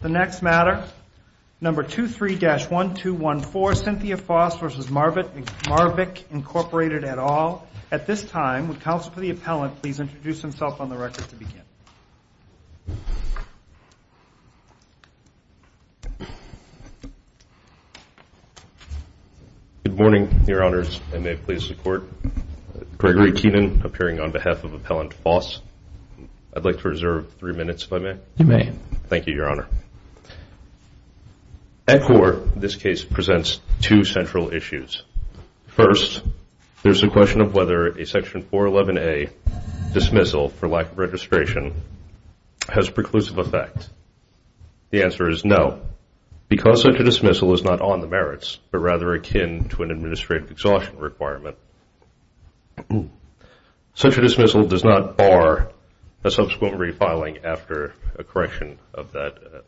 The next matter, number 23-1214, Cynthia Foss v. Marvic, Incorporated, et al. At this time, would counsel for the appellant please introduce himself on the record to begin. Good morning, your honors. I may please report. Gregory Keenan, appearing on behalf of Appellant Foss. I'd like to reserve three minutes if I may. You may. Thank you, your honor. At court, this case presents two central issues. First, there's a question of whether a Section 411A dismissal for lack of registration has preclusive effect. The answer is no, because such a dismissal is not on the merits, but rather akin to an administrative exhaustion requirement. Such a dismissal does not bar a subsequent refiling after a correction of that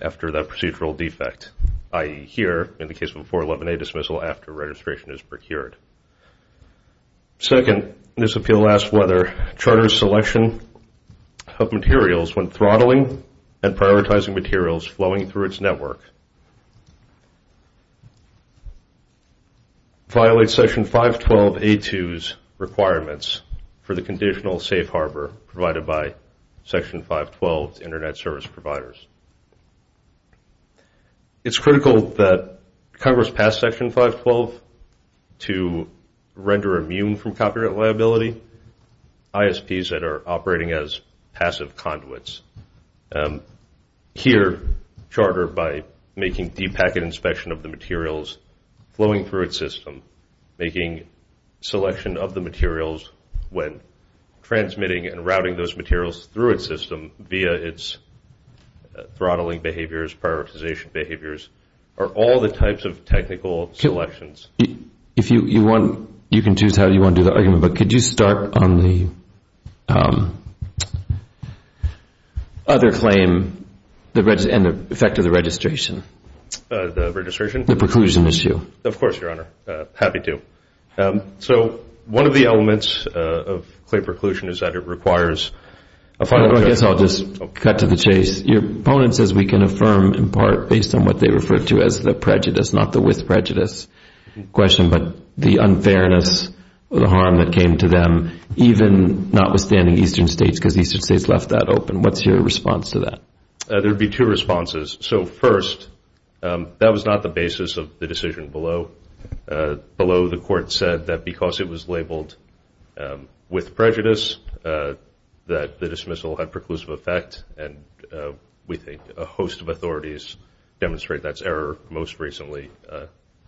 procedural defect, i.e., here in the case of a 411A dismissal after registration is procured. Second, this appeal asks whether charter selection of materials when throttling and prioritizing materials flowing through its network violates Section 512A2's requirements for the conditional safe harbor provided by Section 512's Internet Service Providers. It's critical that Congress pass Section 512 to render immune from copyright liability ISPs that are operating as passive conduits. Here, charter, by making deep packet inspection of the materials flowing through its system, making selection of the materials when transmitting and routing those materials through its system via its throttling behaviors, prioritization behaviors, are all the types of technical selections. If you want, you can choose how you want to do the argument. But could you start on the other claim and the effect of the registration? The registration? The preclusion issue. Of course, Your Honor. Happy to. So one of the elements of clear preclusion is that it requires a final judgment. I guess I'll just cut to the chase. Your opponent says we can affirm in part based on what they refer to as the prejudice, not the with prejudice question, but the unfairness or the harm that came to them, even notwithstanding Eastern states, because Eastern states left that open. What's your response to that? There would be two responses. So first, that was not the basis of the decision below. Below, the Court said that because it was labeled with prejudice, that the dismissal had preclusive effect and we think a host of authorities demonstrate that's error, most recently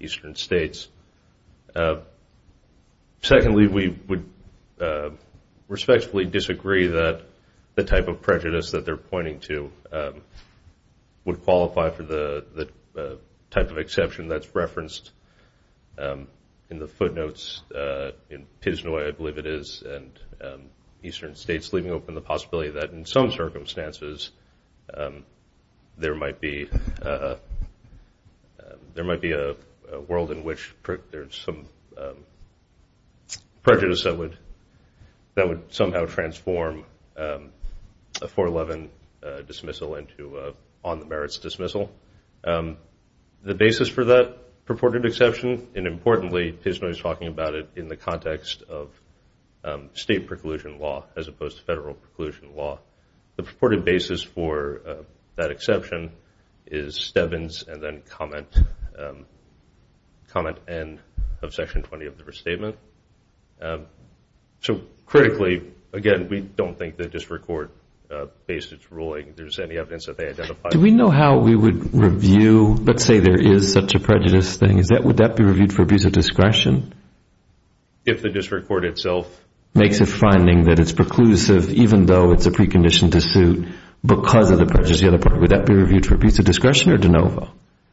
Eastern states. Secondly, we would respectfully disagree that the type of prejudice that they're pointing to would qualify for the type of exception that's referenced in the footnotes in Piznoy, I believe it is, and Eastern states leaving open the possibility that in some circumstances there might be a world in which there's some prejudice that would somehow transform a 411 dismissal into an on-the-merits dismissal. The basis for that purported exception, and importantly, Piznoy is talking about it in the context of state preclusion law as opposed to federal preclusion law. The purported basis for that exception is Stebbins and then comment end of Section 20 of the restatement. So critically, again, we don't think the district court based its ruling. If there's any evidence that they identified. Do we know how we would review? Let's say there is such a prejudice thing. Would that be reviewed for abuse of discretion? If the district court itself makes a finding that it's preclusive even though it's a precondition to sue because of the prejudice? Would that be reviewed for abuse of discretion or de novo?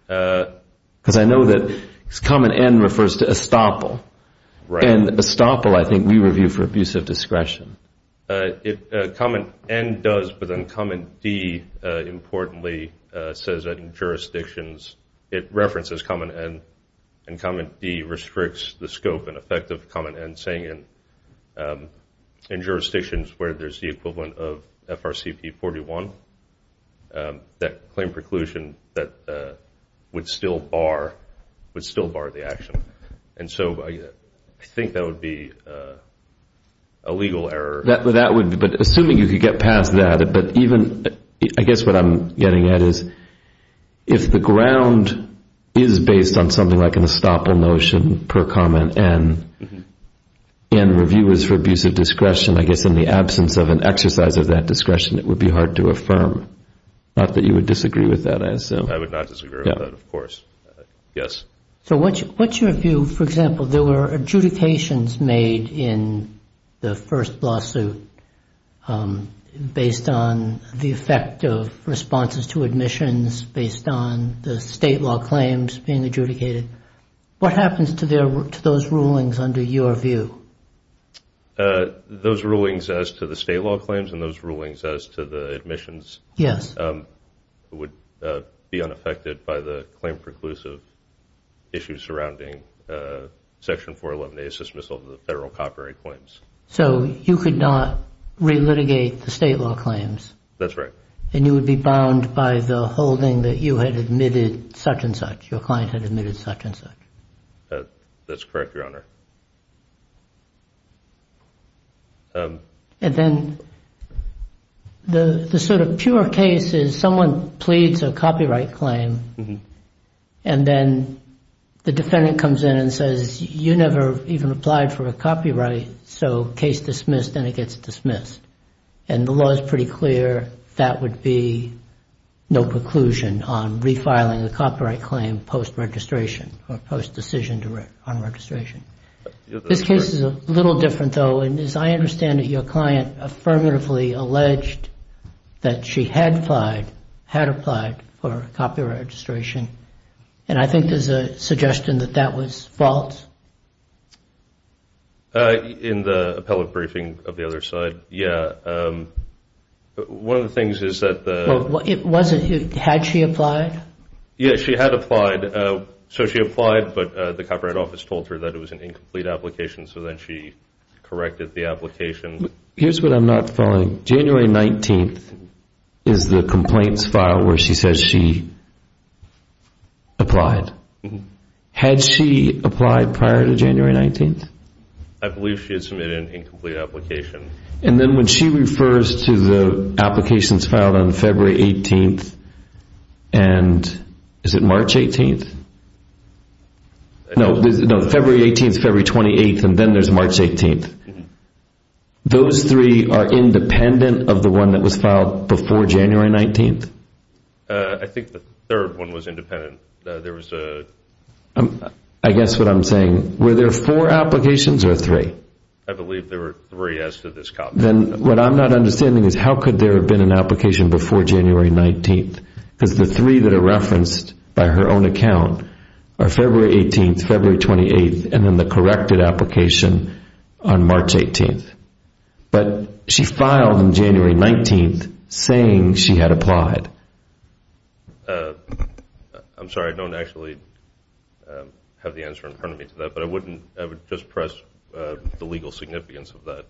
Because I know that comment N refers to estoppel. And estoppel, I think, we review for abuse of discretion. Comment N does, but then comment D, importantly, says that in jurisdictions it references comment N. And comment D restricts the scope and effect of comment N saying in jurisdictions where there's the equivalent of FRCP 41, that claim preclusion would still bar the action. And so I think that would be a legal error. But assuming you could get past that, but even I guess what I'm getting at is if the ground is based on something like an estoppel notion per comment N, and review is for abuse of discretion, I guess in the absence of an exercise of that discretion, it would be hard to affirm. Not that you would disagree with that, I assume. I would not disagree with that, of course. Yes. So what's your view, for example, there were adjudications made in the first lawsuit based on the effect of responses to admissions, based on the state law claims being adjudicated. What happens to those rulings under your view? Those rulings as to the state law claims and those rulings as to the admissions. Yes. Would be unaffected by the claim preclusive issues surrounding Section 411A's dismissal of the federal copyright claims. So you could not relitigate the state law claims. That's right. And you would be bound by the holding that you had admitted such and such, your client had admitted such and such. That's correct, Your Honor. And then the sort of pure case is someone pleads a copyright claim, and then the defendant comes in and says, you never even applied for a copyright, so case dismissed, and it gets dismissed. And the law is pretty clear that would be no preclusion on refiling the copyright claim post-registration or post-decision on registration. This case is a little different, though, and as I understand it, your client affirmatively alleged that she had applied for copyright registration. And I think there's a suggestion that that was false. In the appellate briefing of the other side, yeah. One of the things is that the – Well, it wasn't – had she applied? Yes, she had applied. So she applied, but the Copyright Office told her that it was an incomplete application, so then she corrected the application. Here's what I'm not following. January 19th is the complaints file where she says she applied. Had she applied prior to January 19th? I believe she had submitted an incomplete application. And then when she refers to the applications filed on February 18th and – is it March 18th? No, February 18th, February 28th, and then there's March 18th. Those three are independent of the one that was filed before January 19th? I think the third one was independent. There was a – I guess what I'm saying, were there four applications or three? I believe there were three as to this copy. Then what I'm not understanding is how could there have been an application before January 19th? Because the three that are referenced by her own account are February 18th, February 28th, and then the corrected application on March 18th. But she filed on January 19th saying she had applied. I'm sorry, I don't actually have the answer in front of me to that, but I wouldn't – I would just press the legal significance of that.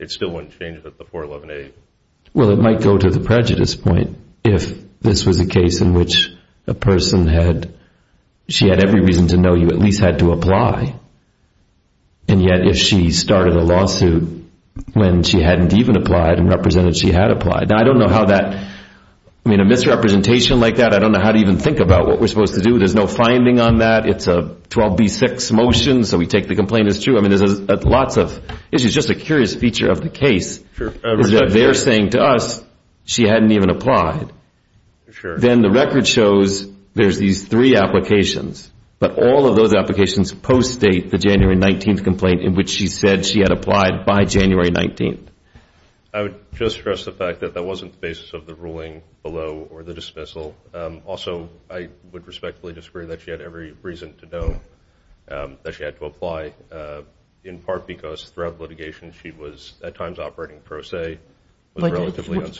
It still wouldn't change that the 411A – Well, it might go to the prejudice point if this was a case in which a person had – she had every reason to know you at least had to apply, and yet if she started a lawsuit when she hadn't even applied and represented she had applied. Now, I don't know how that – I mean, a misrepresentation like that, I don't know how to even think about what we're supposed to do. There's no finding on that. It's a 12B6 motion, so we take the complaint as true. I mean, there's lots of – it's just a curious feature of the case is that they're saying to us she hadn't even applied. Then the record shows there's these three applications, but all of those applications post-date the January 19th complaint in which she said she had applied by January 19th. I would just stress the fact that that wasn't the basis of the ruling below or the dismissal. Also, I would respectfully disagree that she had every reason to know that she had to apply, in part because throughout litigation she was at times operating pro se. But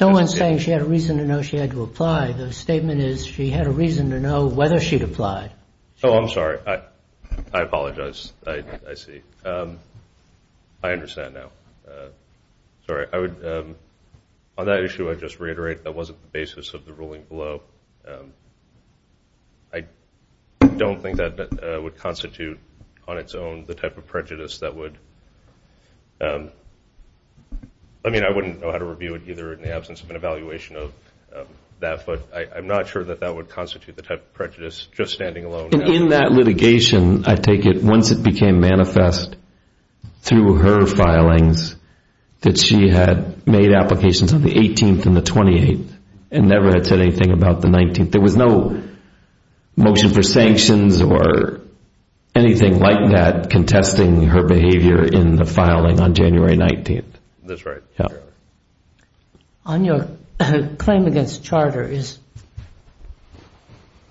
no one's saying she had a reason to know she had to apply. The statement is she had a reason to know whether she'd applied. Oh, I'm sorry. I apologize. I see. I understand now. Sorry. On that issue, I'd just reiterate that wasn't the basis of the ruling below. I don't think that would constitute on its own the type of prejudice that would – I mean, I wouldn't know how to review it either in the absence of an evaluation of that, but I'm not sure that that would constitute the type of prejudice, just standing alone. And in that litigation, I take it once it became manifest through her filings, that she had made applications on the 18th and the 28th and never had said anything about the 19th. There was no motion for sanctions or anything like that contesting her behavior in the filing on January 19th. That's right. On your claim against Charter,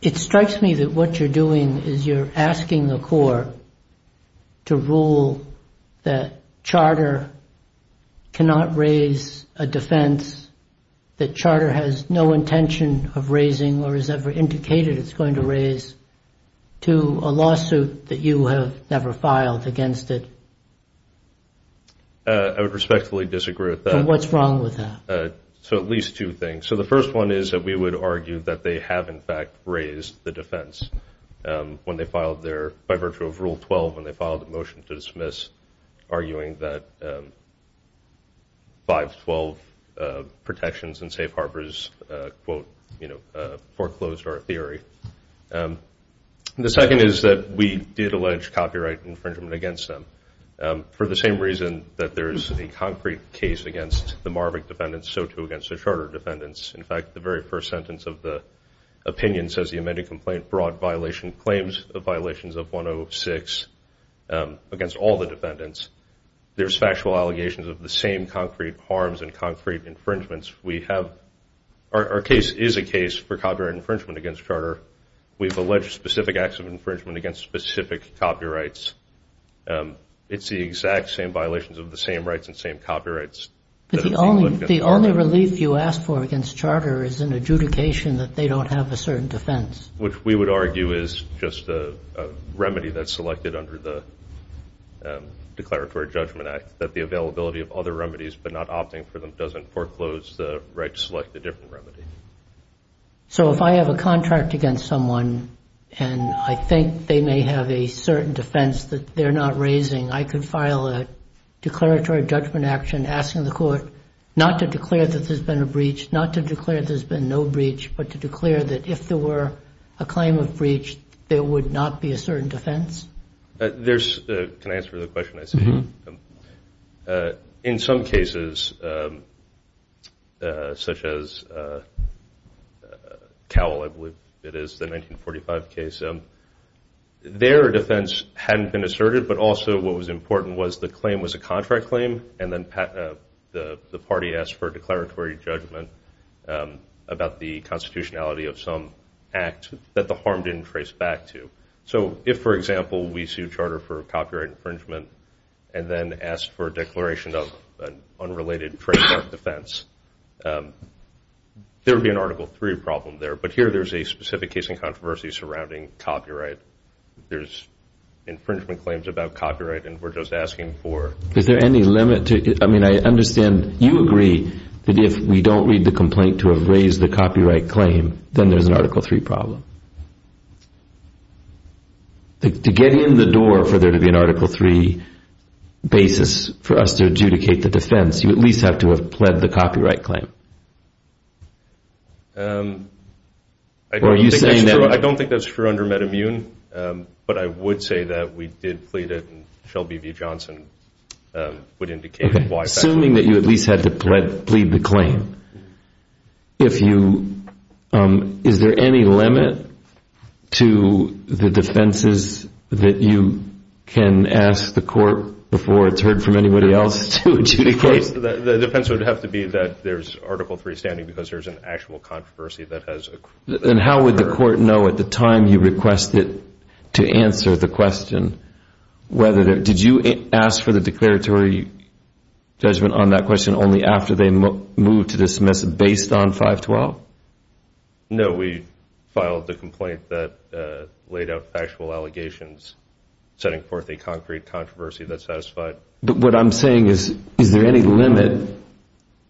it strikes me that what you're doing is you're asking the Court to rule that Charter cannot raise a defense that Charter has no intention of raising or has ever indicated it's going to raise to a lawsuit that you have never filed against it. I would respectfully disagree with that. And what's wrong with that? So at least two things. So the first one is that we would argue that they have, in fact, raised the defense when they filed their – by virtue of Rule 12 when they filed a motion to dismiss, arguing that 512 protections and safe harbors, quote, you know, foreclosed our theory. And the second is that we did allege copyright infringement against them for the same reason that there is a concrete case against the Marvick defendants, so too against the Charter defendants. In fact, the very first sentence of the opinion says the amended complaint brought violation claims of violations of 106 against all the defendants. There's factual allegations of the same concrete harms and concrete infringements. We have – our case is a case for copyright infringement against Charter. We've alleged specific acts of infringement against specific copyrights. It's the exact same violations of the same rights and same copyrights. But the only relief you asked for against Charter is an adjudication that they don't have a certain defense. Which we would argue is just a remedy that's selected under the Declaratory Judgment Act, that the availability of other remedies but not opting for them doesn't foreclose the right to select a different remedy. So if I have a contract against someone and I think they may have a certain defense that they're not raising, I could file a Declaratory Judgment Action asking the court not to declare that there's been a breach, not to declare there's been no breach, but to declare that if there were a claim of breach, there would not be a certain defense? There's – can I answer the question? In some cases, such as Cowell, I believe it is, the 1945 case, their defense hadn't been asserted, but also what was important was the claim was a contract claim and then the party asked for a declaratory judgment about the constitutionality of some act that the harm didn't trace back to. So if, for example, we sue Charter for copyright infringement and then ask for a declaration of an unrelated trademark defense, there would be an Article III problem there. But here there's a specific case in controversy surrounding copyright. There's infringement claims about copyright and we're just asking for – Is there any limit to – I mean, I understand you agree that if we don't read the complaint to have raised the copyright claim, then there's an Article III problem. To get in the door for there to be an Article III basis for us to adjudicate the defense, you at least have to have pled the copyright claim. Are you saying that – I don't think that's true under MedImmune, but I would say that we did plead it and Shelby v. Johnson would indicate why that would – If you – Is there any limit to the defenses that you can ask the court before it's heard from anybody else to adjudicate? The defense would have to be that there's Article III standing because there's an actual controversy that has occurred. And how would the court know at the time you request it to answer the question whether – did you ask for the declaratory judgment on that question only after they moved to dismiss it based on 512? No, we filed the complaint that laid out factual allegations setting forth a concrete controversy that satisfied – But what I'm saying is, is there any limit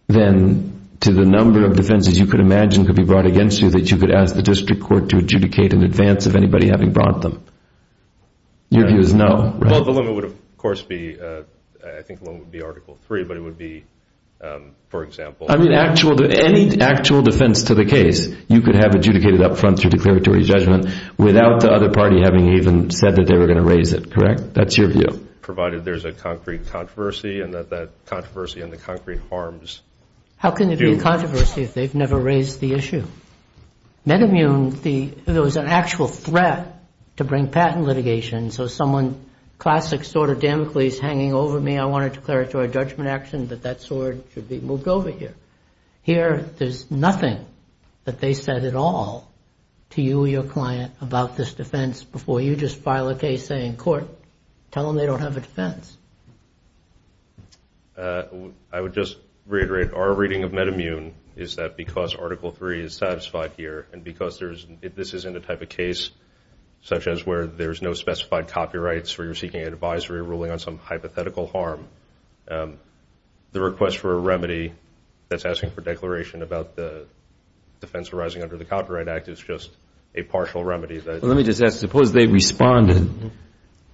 then to the number of defenses you could imagine could be brought against you that you could ask the district court to adjudicate in advance of anybody having brought them? Your view is no, right? Well, the limit would, of course, be – I think the limit would be Article III, but it would be, for example – I mean, actual – any actual defense to the case, you could have adjudicated up front through declaratory judgment without the other party having even said that they were going to raise it, correct? That's your view. Provided there's a concrete controversy and that that controversy and the concrete harms do – How can there be a controversy if they've never raised the issue? MedImmune, the – there was an actual threat to bring patent litigation, so someone – classic sort of Damocles hanging over me, and I want to declare it to our judgment action that that sword should be moved over here. Here, there's nothing that they said at all to you or your client about this defense before you just file a case saying, Court, tell them they don't have a defense. I would just reiterate, our reading of MedImmune is that because Article III is satisfied here and because there's – this isn't a type of case such as where there's no specified copyrights that are ruling on some hypothetical harm. The request for a remedy that's asking for declaration about the defense arising under the Copyright Act is just a partial remedy. Let me just ask, suppose they responded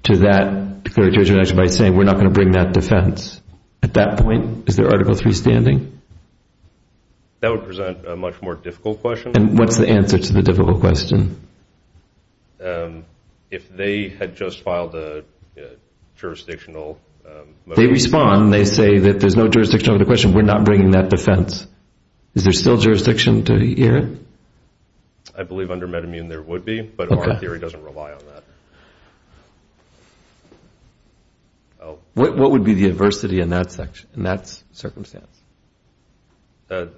to that declaratory judgment action by saying we're not going to bring that defense. At that point, is there Article III standing? That would present a much more difficult question. And what's the answer to the difficult question? If they had just filed a jurisdictional motion. They respond. They say that there's no jurisdiction over the question. We're not bringing that defense. Is there still jurisdiction to hear it? I believe under MedImmune there would be, but our theory doesn't rely on that. What would be the adversity in that circumstance? It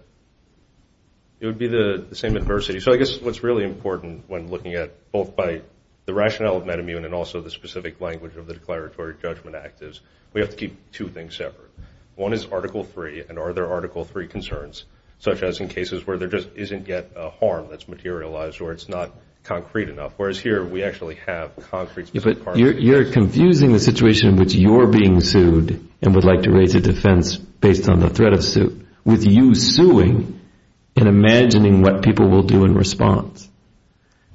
would be the same adversity. So I guess what's really important when looking at both by the rationale of MedImmune and also the specific language of the Declaratory Judgment Act is we have to keep two things separate. One is Article III and are there Article III concerns, such as in cases where there just isn't yet a harm that's materialized or it's not concrete enough, whereas here we actually have concrete. But you're confusing the situation in which you're being sued and would like to raise a defense based on the threat of suit with you suing and imagining what people will do in response.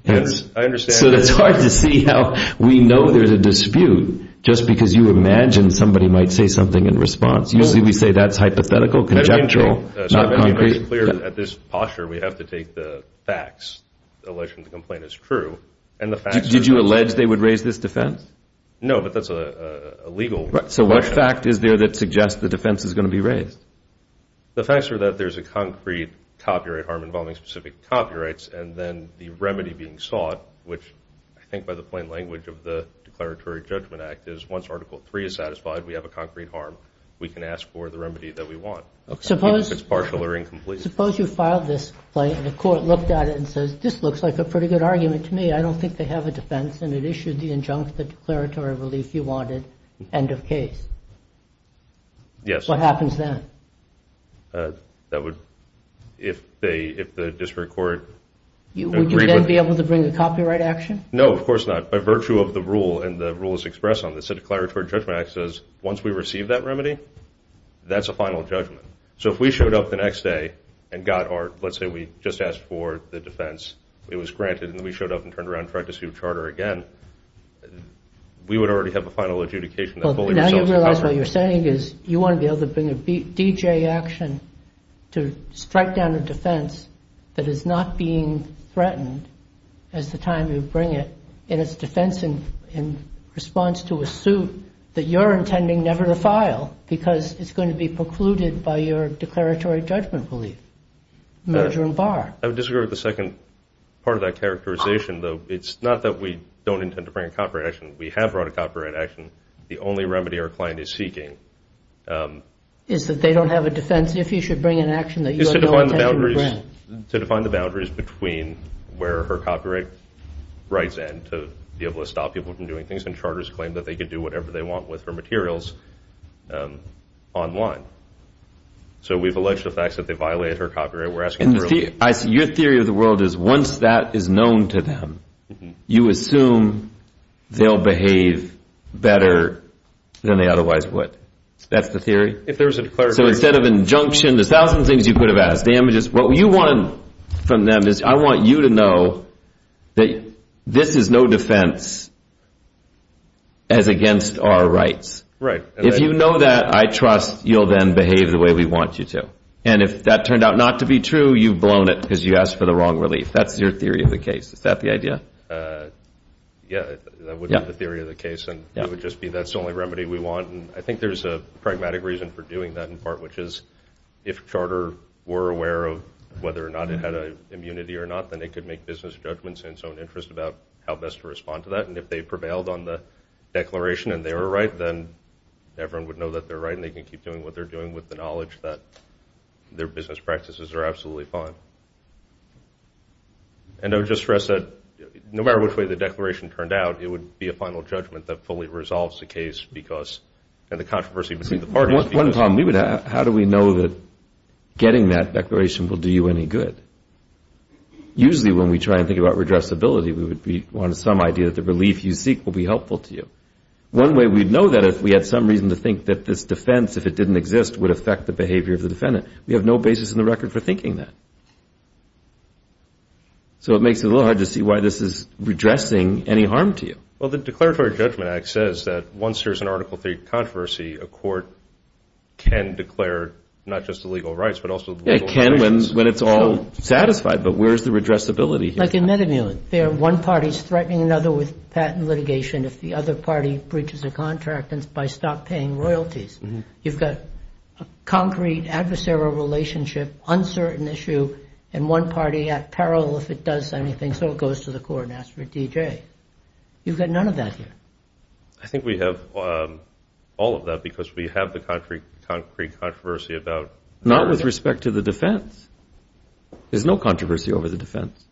I understand. So it's hard to see how we know there's a dispute just because you imagine somebody might say something in response. Usually we say that's hypothetical, conjectural, not concrete. MedImmune makes it clear that at this posture we have to take the facts. The allegation of the complaint is true. Did you allege they would raise this defense? No, but that's a legal question. So what fact is there that suggests the defense is going to be raised? The facts are that there's a concrete copyright harm involving specific copyrights and then the remedy being sought, which I think by the plain language of the Declaratory Judgment Act, is once Article III is satisfied we have a concrete harm, we can ask for the remedy that we want, even if it's partial or incomplete. Suppose you filed this complaint and the court looked at it and says, this looks like a pretty good argument to me. I don't think they have a defense, and it issued the injunctive declaratory relief you wanted, end of case. Yes. What happens then? That would, if the district court agreed with it. Would you then be able to bring a copyright action? No, of course not. By virtue of the rule and the rules expressed on this, the Declaratory Judgment Act says once we receive that remedy, that's a final judgment. So if we showed up the next day and got our, let's say we just asked for the defense, it was granted, and then we showed up and turned around and tried to sue charter again, we would already have a final adjudication. Now you realize what you're saying is you want to be able to bring a D.J. action to strike down a defense that is not being threatened as the time you bring it, and it's a defense in response to a suit that you're intending never to file because it's going to be precluded by your declaratory judgment relief, merger and bar. I would disagree with the second part of that characterization, though. It's not that we don't intend to bring a copyright action. We have brought a copyright action. The only remedy our client is seeking is to define the boundaries between where her copyright rights end to be able to stop people from doing things, and charters claim that they can do whatever they want with her materials online. So we've alleged the facts that they violated her copyright. Your theory of the world is once that is known to them, you assume they'll behave better than they otherwise would. That's the theory? So instead of injunction, there's a thousand things you could have asked. What you want from them is I want you to know that this is no defense as against our rights. If you know that, I trust you'll then behave the way we want you to. And if that turned out not to be true, you've blown it because you asked for the wrong relief. That's your theory of the case. Is that the idea? Yeah, that would be the theory of the case, and it would just be that's the only remedy we want. And I think there's a pragmatic reason for doing that in part, which is if a charter were aware of whether or not it had an immunity or not, then they could make business judgments in its own interest about how best to respond to that. And if they prevailed on the declaration and they were right, then everyone would know that they're right, and they can keep doing what they're doing with the knowledge that their business practices are absolutely fine. And I would just stress that no matter which way the declaration turned out, it would be a final judgment that fully resolves the case because of the controversy between the parties. One problem we would have, how do we know that getting that declaration will do you any good? Usually when we try and think about redressability, we would want some idea that the relief you seek will be helpful to you. One way we'd know that is if we had some reason to think that this defense, if it didn't exist, would affect the behavior of the defendant. We have no basis in the record for thinking that. So it makes it a little hard to see why this is redressing any harm to you. Well, the Declaratory Judgment Act says that once there's an Article III controversy, a court can declare not just the legal rights but also the legal violations. It can when it's all satisfied, but where's the redressability here? Like in MetaMulan, if one party's threatening another with patent litigation, if the other party breaches a contract, it's by stop paying royalties. You've got a concrete adversarial relationship, uncertain issue, and one party at peril if it does anything, so it goes to the court and asks for a DJ. You've got none of that here. I think we have all of that because we have the concrete controversy about that. Not with respect to the defense. There's no controversy over the defense.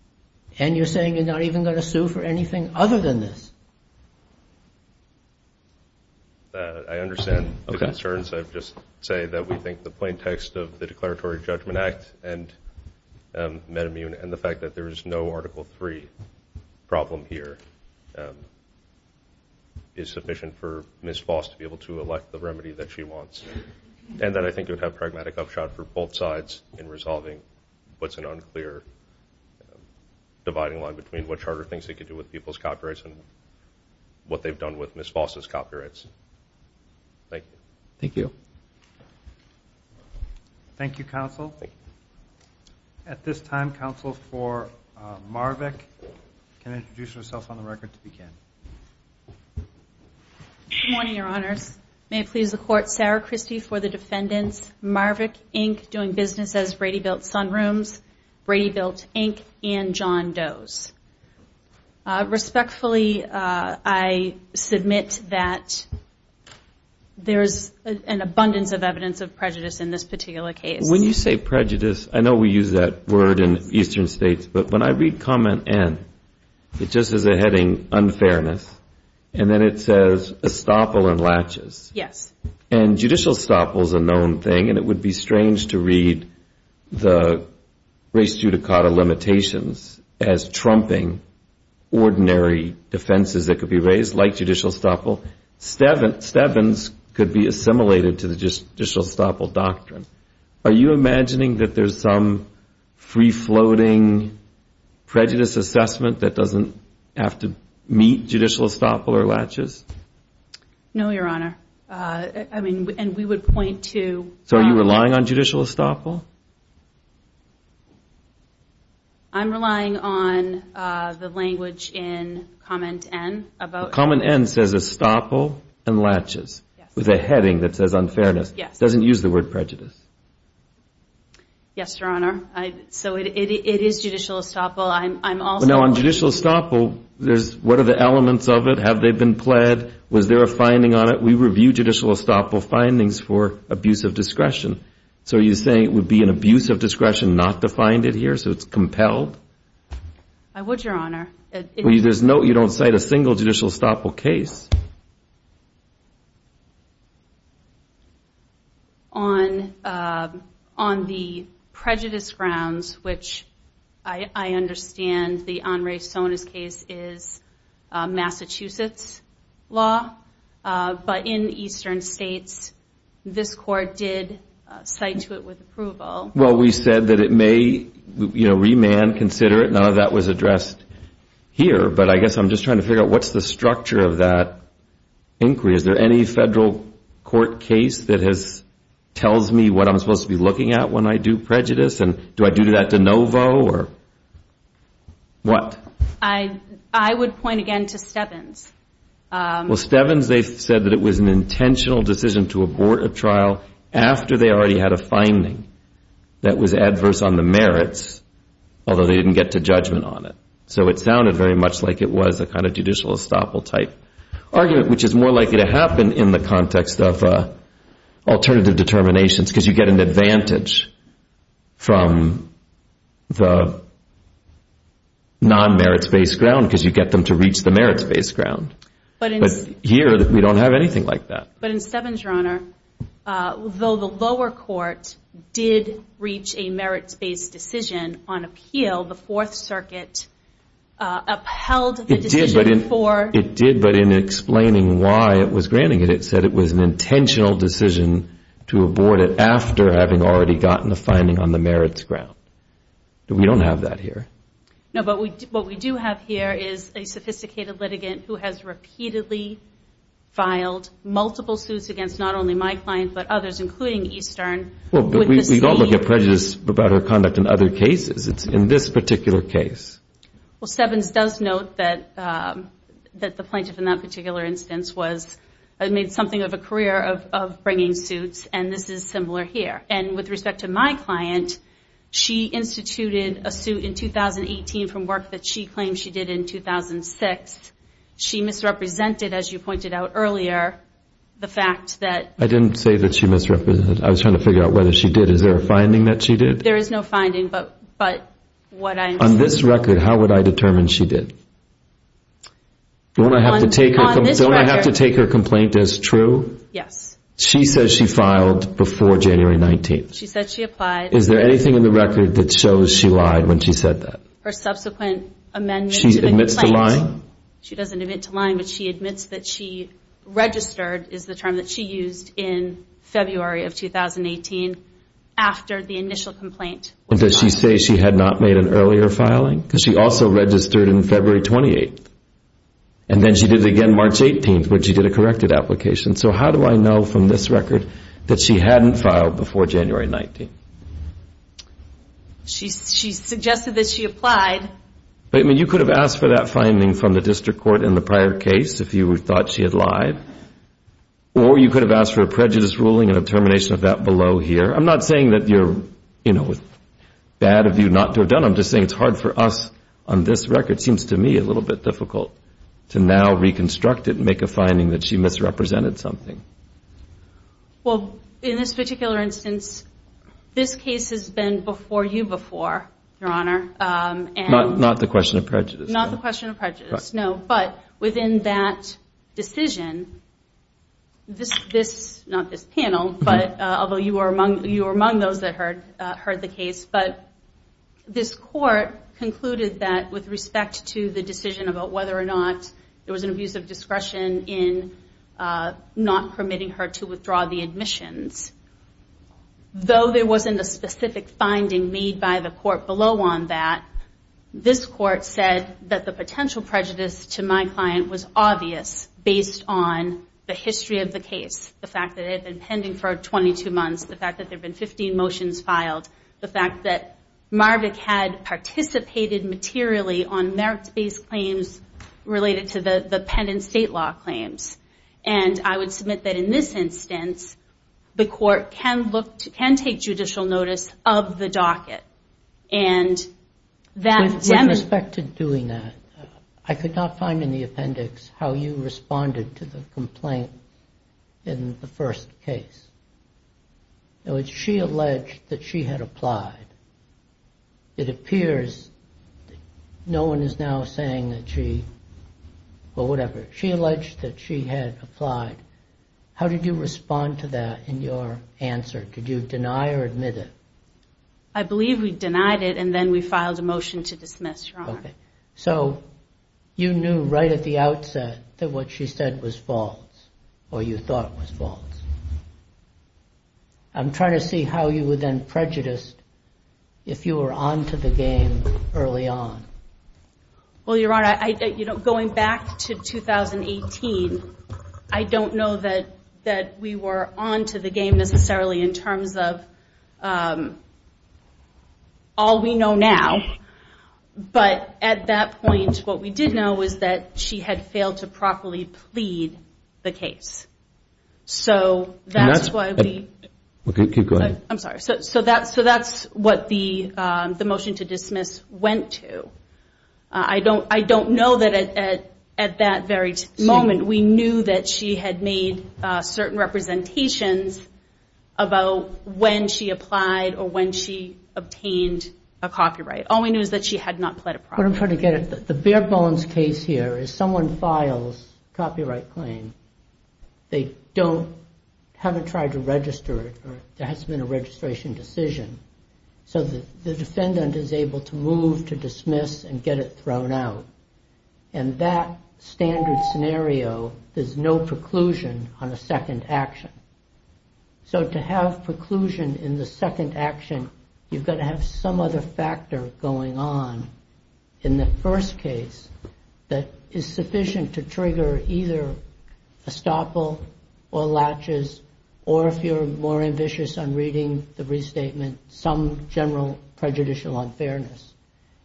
And you're saying you're not even going to sue for anything other than this? I understand the concerns. I'd just say that we think the plain text of the Declaratory Judgment Act and MetaMulan and the fact that there is no Article III problem here is sufficient for Ms. Foss to be able to elect the remedy that she wants, and that I think would have pragmatic upshot for both sides in resolving what's an unclear dividing line between what Charter thinks it could do with people's copyrights and what they've done with Ms. Foss's copyrights. Thank you. Thank you. Thank you, counsel. At this time, counsel for Marvick can introduce herself on the record to begin. Good morning, Your Honors. May it please the Court, Sarah Christie for the defendants, Marvick, Inc., doing business as Brady Built Sun Rooms, Brady Built, Inc., and John Doe's. Respectfully, I submit that there is an abundance of evidence of prejudice in this particular case. When you say prejudice, I know we use that word in eastern states, but when I read comment N, it just has a heading, unfairness, and then it says estoppel and latches. Yes. And judicial estoppel is a known thing, and it would be strange to read the race judicata limitations as trumping ordinary defenses that could be raised, like judicial estoppel. Stevens could be assimilated to the judicial estoppel doctrine. Are you imagining that there's some free-floating prejudice assessment that doesn't have to meet judicial estoppel or latches? No, Your Honor. I mean, and we would point to- So are you relying on judicial estoppel? I'm relying on the language in comment N about- Comment N says estoppel and latches. Yes. With a heading that says unfairness. Yes. Doesn't use the word prejudice. Yes, Your Honor. So it is judicial estoppel. I'm also- Now, on judicial estoppel, what are the elements of it? Have they been pled? Was there a finding on it? We review judicial estoppel findings for abuse of discretion. So are you saying it would be an abuse of discretion not to find it here, so it's compelled? I would, Your Honor. You don't cite a single judicial estoppel case. On the prejudice grounds, which I understand the Henri Sonas case is Massachusetts law, but in eastern states this court did cite to it with approval. Well, we said that it may, you know, remand, consider it. None of that was addressed here, but I guess I'm just trying to figure out what's the structure of that inquiry. Is there any federal court case that tells me what I'm supposed to be looking at when I do prejudice, and do I do that de novo or what? I would point again to Stebbins. Well, Stebbins, they said that it was an intentional decision to abort a trial after they already had a finding that was adverse on the merits, although they didn't get to judgment on it. So it sounded very much like it was a kind of judicial estoppel-type argument, which is more likely to happen in the context of alternative determinations, because you get an advantage from the non-merits-based ground because you get them to reach the merits-based ground. But here we don't have anything like that. But in Stebbins, Your Honor, though the lower court did reach a merits-based decision on appeal, the Fourth Circuit upheld the decision for- It did, but in explaining why it was granting it, it said it was an intentional decision to abort it after having already gotten a finding on the merits ground. We don't have that here. No, but what we do have here is a sophisticated litigant who has repeatedly filed multiple suits against not only my client but others, including Eastern. We don't look at prejudice about her conduct in other cases. It's in this particular case. Well, Stebbins does note that the plaintiff in that particular instance made something of a career of bringing suits, and this is similar here. And with respect to my client, she instituted a suit in 2018 from work that she claimed she did in 2006. She misrepresented, as you pointed out earlier, the fact that- I didn't say that she misrepresented. I was trying to figure out whether she did. Is there a finding that she did? There is no finding, but what I'm saying- On this record, how would I determine she did? Don't I have to take her complaint as true? Yes. She says she filed before January 19th. She said she applied- Is there anything in the record that shows she lied when she said that? Her subsequent amendment to the complaint- She admits to lying? She doesn't admit to lying, but she admits that she registered, is the term that she used, in February of 2018 after the initial complaint was filed. And does she say she had not made an earlier filing? Because she also registered in February 28th, and then she did it again March 18th when she did a corrected application. So how do I know from this record that she hadn't filed before January 19th? She suggested that she applied. You could have asked for that finding from the district court in the prior case if you thought she had lied, or you could have asked for a prejudice ruling and a termination of that below here. I'm not saying that you're, you know, bad of you not to have done it. I'm just saying it's hard for us on this record. It seems to me a little bit difficult to now reconstruct it and make a finding that she misrepresented something. Well, in this particular instance, this case has been before you before, Your Honor. Not the question of prejudice. Not the question of prejudice, no. But within that decision, this, not this panel, although you were among those that heard the case, but this court concluded that with respect to the decision about whether or not there was an abuse of discretion in not permitting her to withdraw the admissions. Though there wasn't a specific finding made by the court below on that, this court said that the potential prejudice to my client was obvious based on the history of the case, the fact that it had been pending for 22 months, the fact that there had been 15 motions filed, the fact that Marvick had participated materially on merit-based claims related to the pen and state law claims. And I would submit that in this instance, the court can take judicial notice of the docket. With respect to doing that, I could not find in the appendix how you responded to the complaint in the first case. It was she alleged that she had applied. It appears no one is now saying that she, well, whatever. She alleged that she had applied. How did you respond to that in your answer? Did you deny or admit it? I believe we denied it and then we filed a motion to dismiss, Your Honor. Okay. So you knew right at the outset that what she said was false or you thought was false. I'm trying to see how you would then prejudice if you were on to the game early on. Well, Your Honor, going back to 2018, I don't know that we were on to the game necessarily in terms of all we know now. But at that point, what we did know was that she had failed to properly plead the case. So that's why we... I'm sorry. So that's what the motion to dismiss went to. I don't know that at that very moment, we knew that she had made certain representations about when she applied or when she obtained a copyright. All we knew is that she had not pled a property. But I'm trying to get at the bare bones case here. If someone files a copyright claim, they haven't tried to register it or there hasn't been a registration decision. So the defendant is able to move to dismiss and get it thrown out. And that standard scenario, there's no preclusion on a second action. So to have preclusion in the second action, you've got to have some other factor going on in the first case that is sufficient to trigger either a stopple or latches or if you're more ambitious on reading the restatement, some general prejudicial unfairness.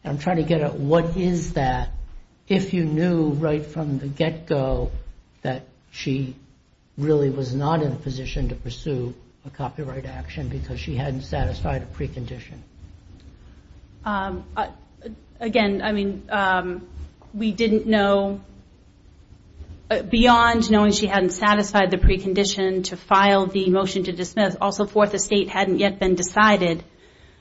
I'm trying to get at what is that if you knew right from the get-go that she really was not in a position to pursue a copyright action because she hadn't satisfied a precondition. Again, I mean, we didn't know. Beyond knowing she hadn't satisfied the precondition to file the motion to dismiss, also Fourth Estate hadn't yet been decided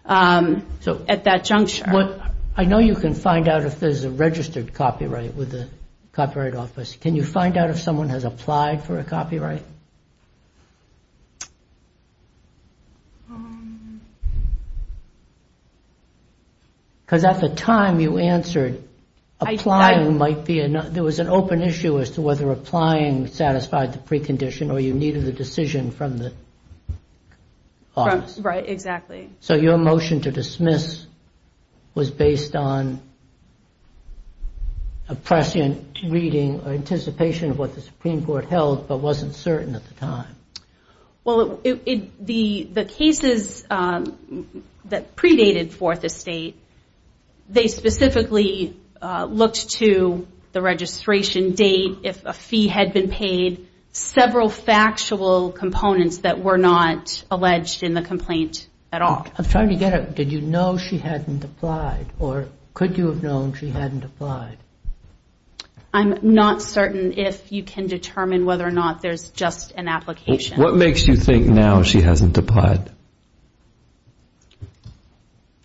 at that juncture. I know you can find out if there's a registered copyright with the Copyright Office. Can you find out if someone has applied for a copyright? Because at the time you answered, there was an open issue as to whether applying satisfied the precondition or you needed the decision from the office. Right, exactly. So your motion to dismiss was based on a prescient reading or anticipation of what the Supreme Court held, but wasn't certain at the time. Well, the cases that predated Fourth Estate, they specifically looked to the registration date, if a fee had been paid, several factual components that were not alleged in the complaint at all. I'm trying to get at, did you know she hadn't applied or could you have known she hadn't applied? I'm not certain if you can determine whether or not there's just an application. What makes you think now she hasn't applied?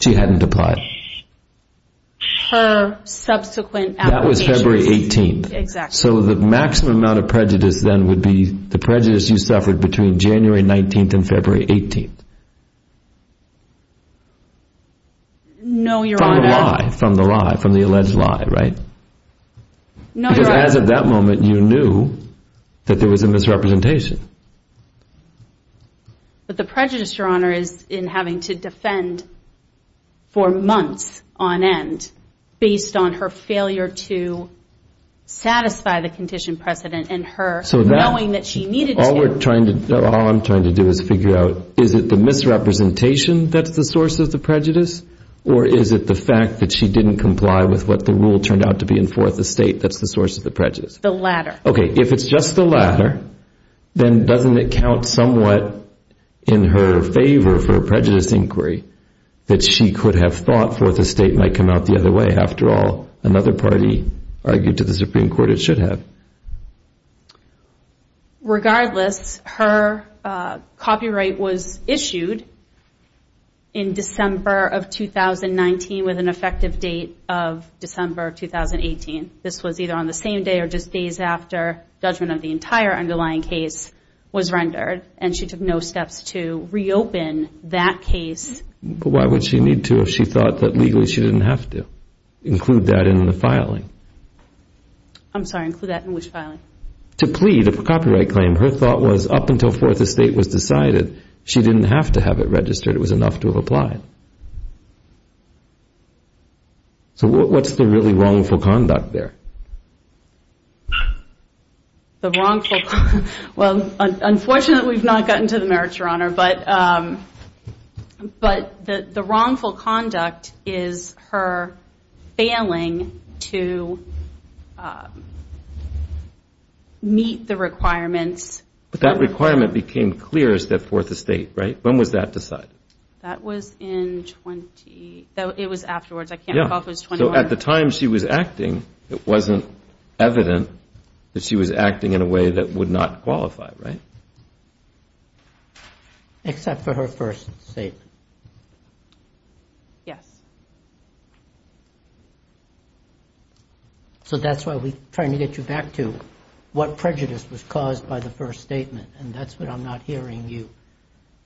She hadn't applied. Her subsequent application. That was February 18th. Exactly. So the maximum amount of prejudice then would be the prejudice you suffered between January 19th and February 18th. No, Your Honor. From the lie, from the alleged lie, right? No, Your Honor. Because as of that moment, you knew that there was a misrepresentation. But the prejudice, Your Honor, is in having to defend for months on end based on her failure to satisfy the condition precedent and her knowing that she needed to. All I'm trying to do is figure out, is it the misrepresentation that's the source of the prejudice or is it the fact that she didn't comply with what the rule turned out to be in Fourth Estate that's the source of the prejudice? The latter. Okay. If it's just the latter, then doesn't it count somewhat in her favor for a prejudice inquiry that she could have thought Fourth Estate might come out the other way? After all, another party argued to the Supreme Court that it should have. Regardless, her copyright was issued in December of 2019 with an effective date of December of 2018. This was either on the same day or just days after judgment of the entire underlying case was rendered and she took no steps to reopen that case. But why would she need to if she thought that legally she didn't have to include that in the filing? I'm sorry, include that in which filing? To plead a copyright claim. Her thought was up until Fourth Estate was decided, she didn't have to have it registered. It was enough to have applied. So what's the really wrongful conduct there? The wrongful... Well, unfortunately we've not gotten to the merits, Your Honor, but the wrongful conduct is her failing to meet the requirements. But that requirement became clear as to Fourth Estate, right? When was that decided? That was in 20... It was afterwards, I can't recall if it was 21 or... So at the time she was acting, it wasn't evident that she was acting in a way that would not qualify, right? Except for her first statement. Yes. So that's why we're trying to get you back to what prejudice was caused by the first statement, and that's what I'm not hearing you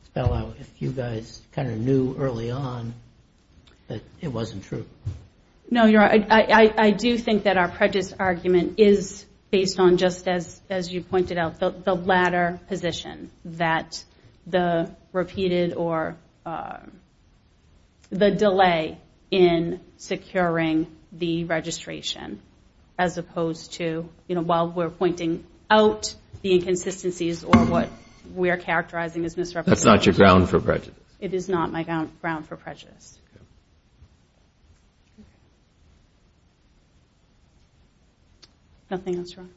spell out. If you guys kind of knew early on that it wasn't true. No, Your Honor, I do think that our prejudice argument is based on, just as you pointed out, the latter position, that the repeated or the delay in securing the registration, as opposed to while we're pointing out the inconsistencies or what we're characterizing as misrepresentation. That's not your ground for prejudice. Nothing else, Your Honor?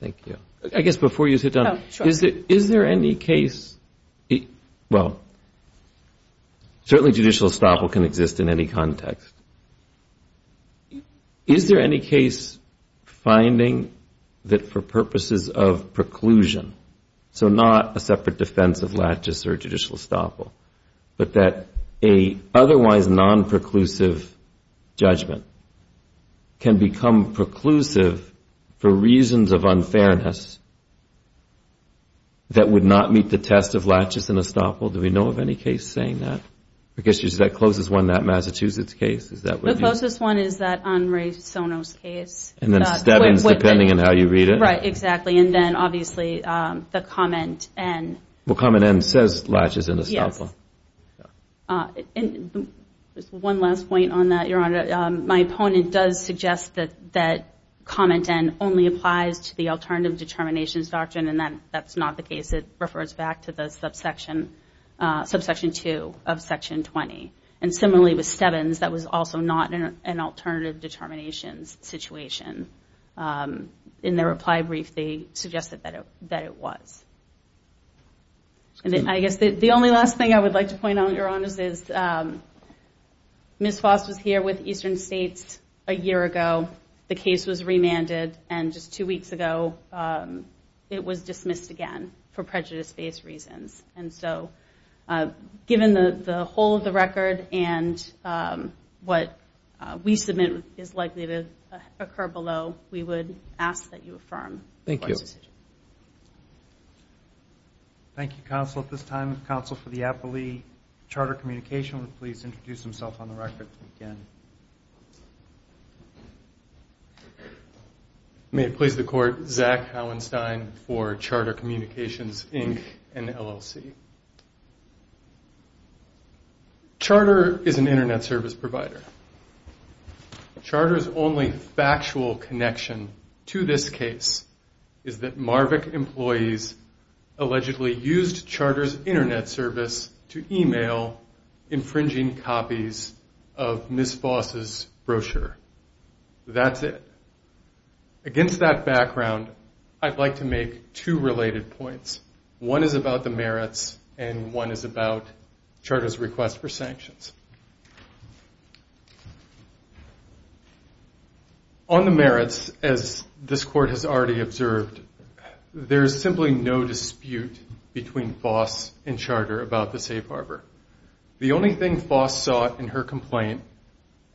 Thank you. I guess before you sit down, is there any case... Well, certainly judicial estoppel can exist in any context. Is there any case finding that for purposes of preclusion, so not a separate defense of laches or judicial estoppel, but that a otherwise non-preclusive judgment can become preclusive for reasons of unfairness that would not meet the test of laches and estoppel? Do we know of any case saying that? I guess that's the closest one, that Massachusetts case. The closest one is that Henri Sono's case. And then Steadman's, depending on how you read it. Right, exactly. And then, obviously, the comment N. Well, comment N says laches and estoppel. Yes. And just one last point on that, Your Honor. My opponent does suggest that comment N only applies to the alternative determinations doctrine, and that's not the case. It refers back to the subsection 2 of section 20. And similarly with Steadman's, that was also not an alternative determinations situation. In their reply brief, they suggested that it was. I guess the only last thing I would like to point out, Your Honor, is Ms. Foss was here with Eastern States a year ago. The case was remanded, and just two weeks ago, it was dismissed again for prejudice-based reasons. And so given the whole of the record and what we submit is likely to occur below, we would ask that you affirm. Thank you. Counsel. Thank you, counsel. At this time, counsel for the appellee, Charter Communications, will please introduce himself on the record again. May it please the Court, Zach Hauenstein for Charter Communications, Inc. and LLC. Charter is an Internet service provider. Charter's only factual connection to this case is that Marvick employees allegedly used Charter's Internet service to email infringing copies of Ms. Foss's brochure. That's it. Against that background, I'd like to make two related points. One is about the merits, and one is about Charter's request for sanctions. On the merits, as this Court has already observed, there is simply no dispute between Foss and Charter about the safe harbor. The only thing Foss saw in her complaint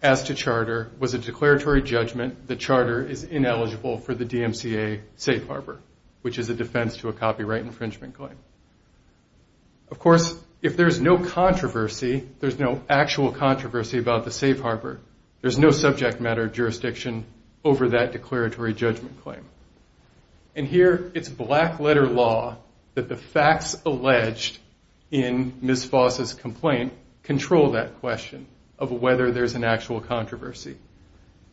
as to Charter was a declaratory judgment that Charter is ineligible for the DMCA safe harbor, which is a defense to a copyright infringement claim. Of course, if there's no controversy, there's no actual controversy about the safe harbor. There's no subject matter jurisdiction over that declaratory judgment claim. Here, it's black-letter law that the facts alleged in Ms. Foss's complaint control that question of whether there's an actual controversy.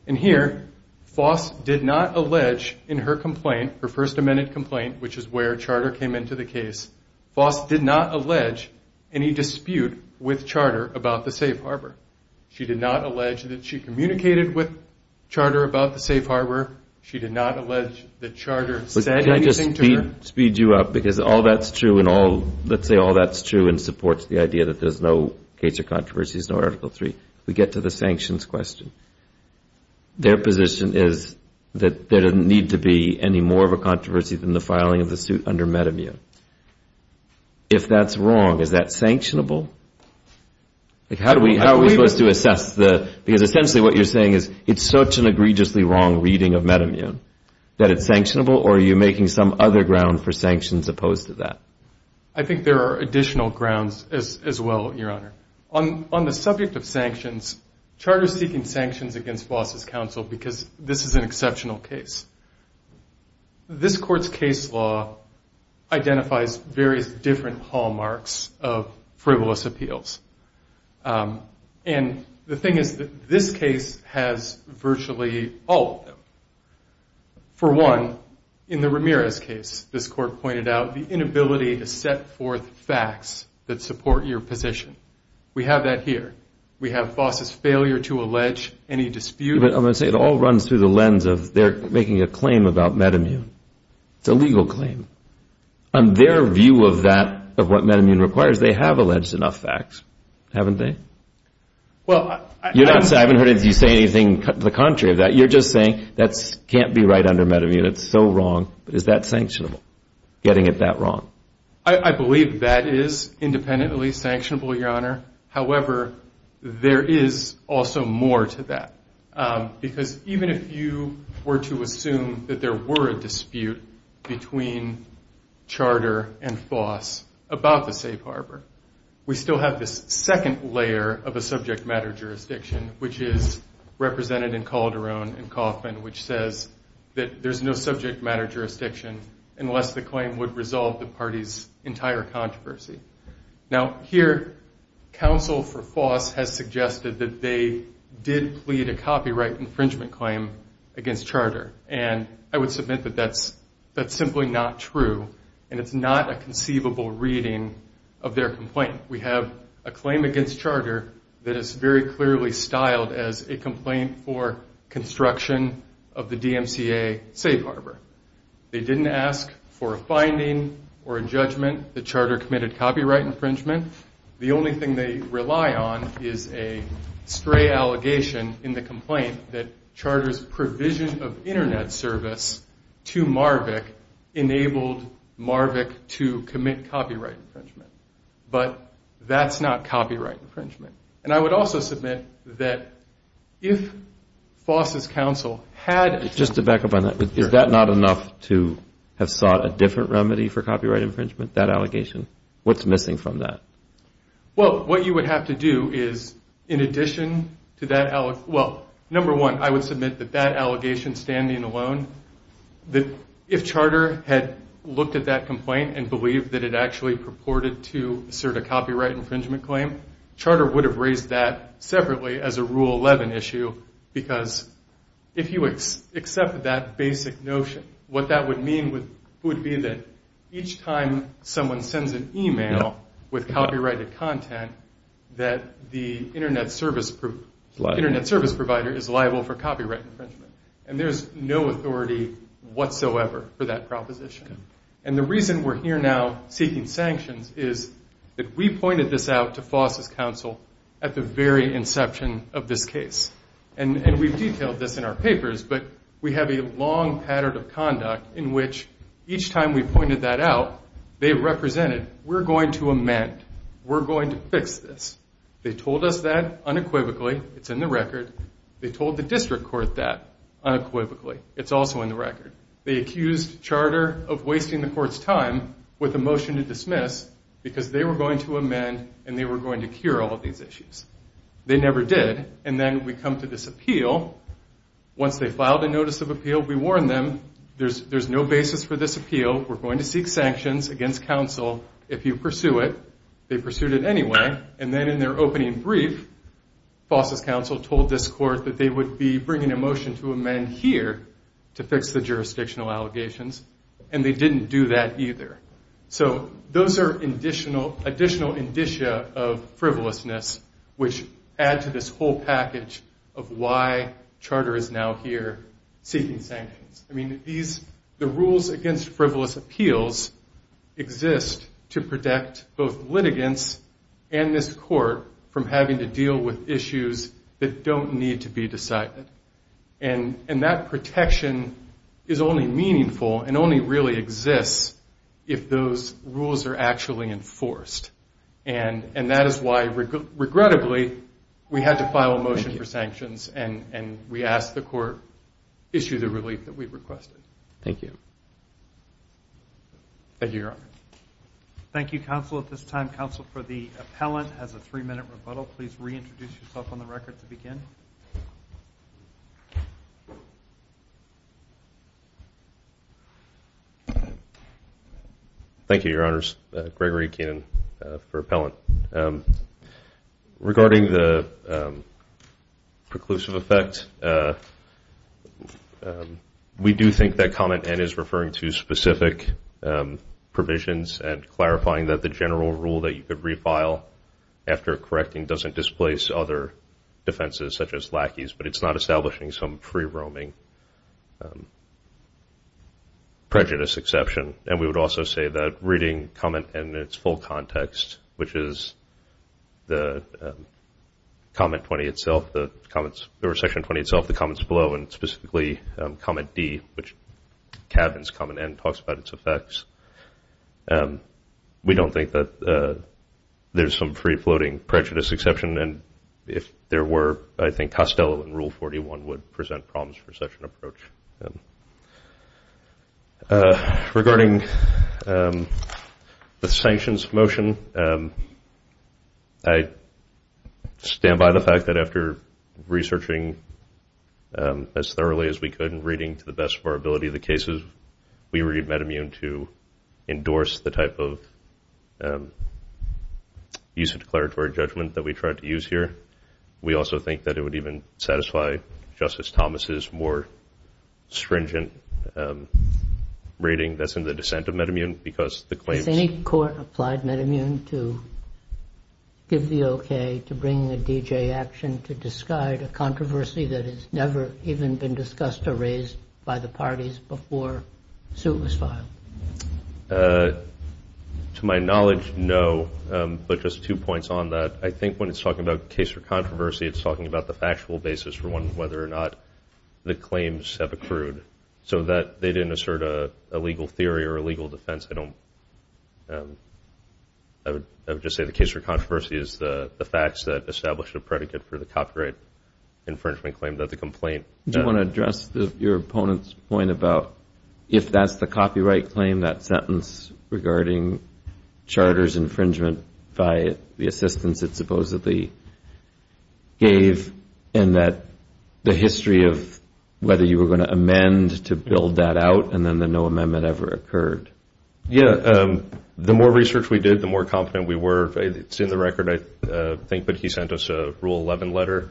Here, Foss did not allege in her complaint, her First Amendment complaint, which is where Charter came into the case, Foss did not allege any dispute with Charter about the safe harbor. She did not allege that she communicated with Charter about the safe harbor. She did not allege that Charter said anything to her. Can I just speed you up? Because all that's true, and let's say all that's true, and supports the idea that there's no case of controversies, no Article III. We get to the sanctions question. Their position is that there doesn't need to be any more of a controversy than the filing of the suit under Metamune. If that's wrong, is that sanctionable? How are we supposed to assess the, because essentially what you're saying is it's such an egregiously wrong reading of Metamune, that it's sanctionable, or are you making some other ground for sanctions opposed to that? I think there are additional grounds as well, Your Honor. On the subject of sanctions, Charter is seeking sanctions against Foss' counsel because this is an exceptional case. This Court's case law identifies various different hallmarks of frivolous appeals. And the thing is that this case has virtually all of them. For one, in the Ramirez case, this Court pointed out the inability to set forth facts that support your position. We have that here. We have Foss' failure to allege any dispute. I'm going to say it all runs through the lens of they're making a claim about Metamune. It's a legal claim. On their view of that, of what Metamune requires, they have alleged enough facts, haven't they? I haven't heard you say anything to the contrary of that. You're just saying that can't be right under Metamune, it's so wrong, but is that sanctionable, getting it that wrong? I believe that is independently sanctionable, Your Honor. However, there is also more to that. Because even if you were to assume that there were a dispute between Charter and Foss about the safe harbor, we still have this second layer of a subject matter jurisdiction, which is represented in Calderon and Kaufman, which says that there's no subject matter jurisdiction unless the claim would resolve the party's entire controversy. Now, here, counsel for Foss has suggested that they did plead a copyright infringement claim against Charter, and I would submit that that's simply not true, and it's not a conceivable reading of their complaint. We have a claim against Charter that is very clearly styled as a complaint for construction of the DMCA safe harbor. They didn't ask for a finding or a judgment that Charter committed copyright infringement. The only thing they rely on is a stray allegation in the complaint that Charter's provision of Internet service to MARVC enabled MARVC to commit copyright infringement. But that's not copyright infringement. And I would also submit that if Foss' counsel had... not enough to have sought a different remedy for copyright infringement, that allegation, what's missing from that? Well, what you would have to do is, in addition to that... Well, number one, I would submit that that allegation standing alone, that if Charter had looked at that complaint and believed that it actually purported to assert a copyright infringement claim, Charter would have raised that separately as a Rule 11 issue because if you accept that basic notion, what that would mean would be that each time someone sends an email with copyrighted content, that the Internet service provider is liable for copyright infringement. And there's no authority whatsoever for that proposition. And the reason we're here now seeking sanctions is that we pointed this out to Foss' counsel at the very inception of this case. And we've detailed this in our papers, but we have a long pattern of conduct in which each time we pointed that out, they represented, we're going to amend. We're going to fix this. They told us that unequivocally. It's in the record. They told the district court that unequivocally. It's also in the record. They accused Charter of wasting the court's time with a motion to dismiss because they were going to amend and they were going to cure all of these issues. They never did. And then we come to this appeal. Once they filed a notice of appeal, we warned them, there's no basis for this appeal. We're going to seek sanctions against counsel if you pursue it. They pursued it anyway. And then in their opening brief, Foss' counsel told this court that they would be bringing a motion to amend here to fix the jurisdictional allegations, and they didn't do that either. So those are additional indicia of frivolousness, which add to this whole package of why Charter is now here seeking sanctions. I mean, the rules against frivolous appeals exist to protect both litigants and this court from having to deal with issues that don't need to be decided. And that protection is only meaningful and only really exists if those rules are actually enforced. And that is why, regrettably, we had to file a motion for sanctions and we asked the court to issue the relief that we requested. Thank you. Thank you, Your Honor. Thank you, counsel. At this time, counsel for the appellant has a three-minute rebuttal. Please reintroduce yourself on the record to begin. Thank you, Your Honors. Gregory Keenan for appellant. Regarding the preclusive effect, we do think that comment N is referring to specific provisions and clarifying that the general rule that you could refile after correcting doesn't displace other defenses such as lackeys, but it's not establishing some free-roaming prejudice exception. And we would also say that reading comment N in its full context, which is section 20 itself, the comments below, and specifically comment D, which cabins comment N, talks about its effects, we don't think that there's some free-floating prejudice exception. And if there were, I think Costello in Rule 41 would present problems for such an approach. Regarding the sanctions motion, I stand by the fact that after researching as thoroughly as we could and reading to the best of our ability the cases, we read MedImmune to endorse the type of use of declaratory judgment that we tried to use here. We also think that it would even satisfy Justice Thomas' more stringent reading that's in the dissent of MedImmune because the claims Has any court applied MedImmune to give the okay to bring a D.J. action to disguise a controversy that has never even been discussed or raised by the parties before the suit was filed? To my knowledge, no, but just two points on that. I think when it's talking about case or controversy, it's talking about the factual basis for whether or not the claims have accrued. So that they didn't assert a legal theory or a legal defense. I would just say the case for controversy is the facts that establish a predicate for the copyright infringement claim that the complaint. Do you want to address your opponent's point about if that's the copyright claim, that sentence regarding charter's infringement by the assistance it supposedly gave and that the history of whether you were going to amend to build that out and then the no amendment ever occurred? Yeah. The more research we did, the more confident we were. It's in the record, I think, but he sent us a Rule 11 letter.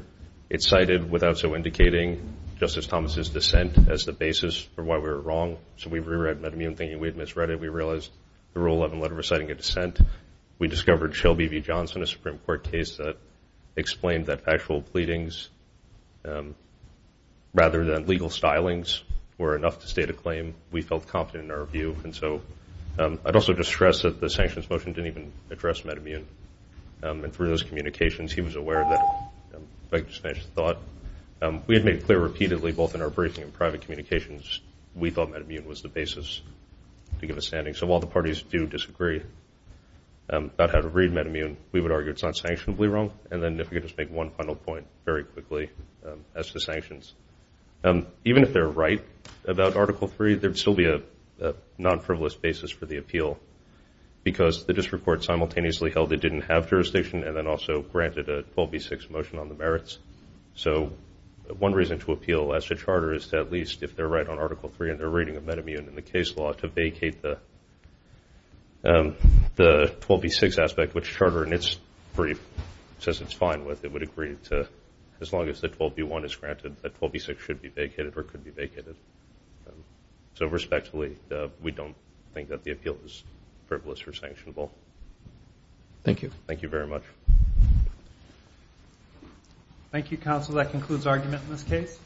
It cited without so indicating Justice Thomas' dissent as the basis for why we were wrong. So we re-read MedImmune thinking we had misread it. We realized the Rule 11 letter was citing a dissent. We discovered Shelby v. Johnson, a Supreme Court case that explained that factual pleadings rather than legal stylings were enough to state a claim. We felt confident in our view. And so I'd also just stress that the sanctions motion didn't even address MedImmune. And through those communications, he was aware that, if I could just finish the thought, we had made clear repeatedly both in our briefing and private communications we thought MedImmune was the basis to give a standing. So while the parties do disagree about how to read MedImmune, we would argue it's not sanctionably wrong. And then if we could just make one final point very quickly as to sanctions. Even if they're right about Article III, there would still be a non-frivolous basis for the appeal because the district court simultaneously held it didn't have jurisdiction and then also granted a 12B6 motion on the merits. So one reason to appeal as to charter is to at least, if they're right on Article III and they're reading of MedImmune in the case law, to vacate the 12B6 aspect, which charter in its brief says it's fine with, it would agree to as long as the 12B1 is granted that 12B6 should be vacated or could be vacated. So respectfully, we don't think that the appeal is frivolous or sanctionable. Thank you. Thank you very much. Thank you, counsel. That concludes argument in this case.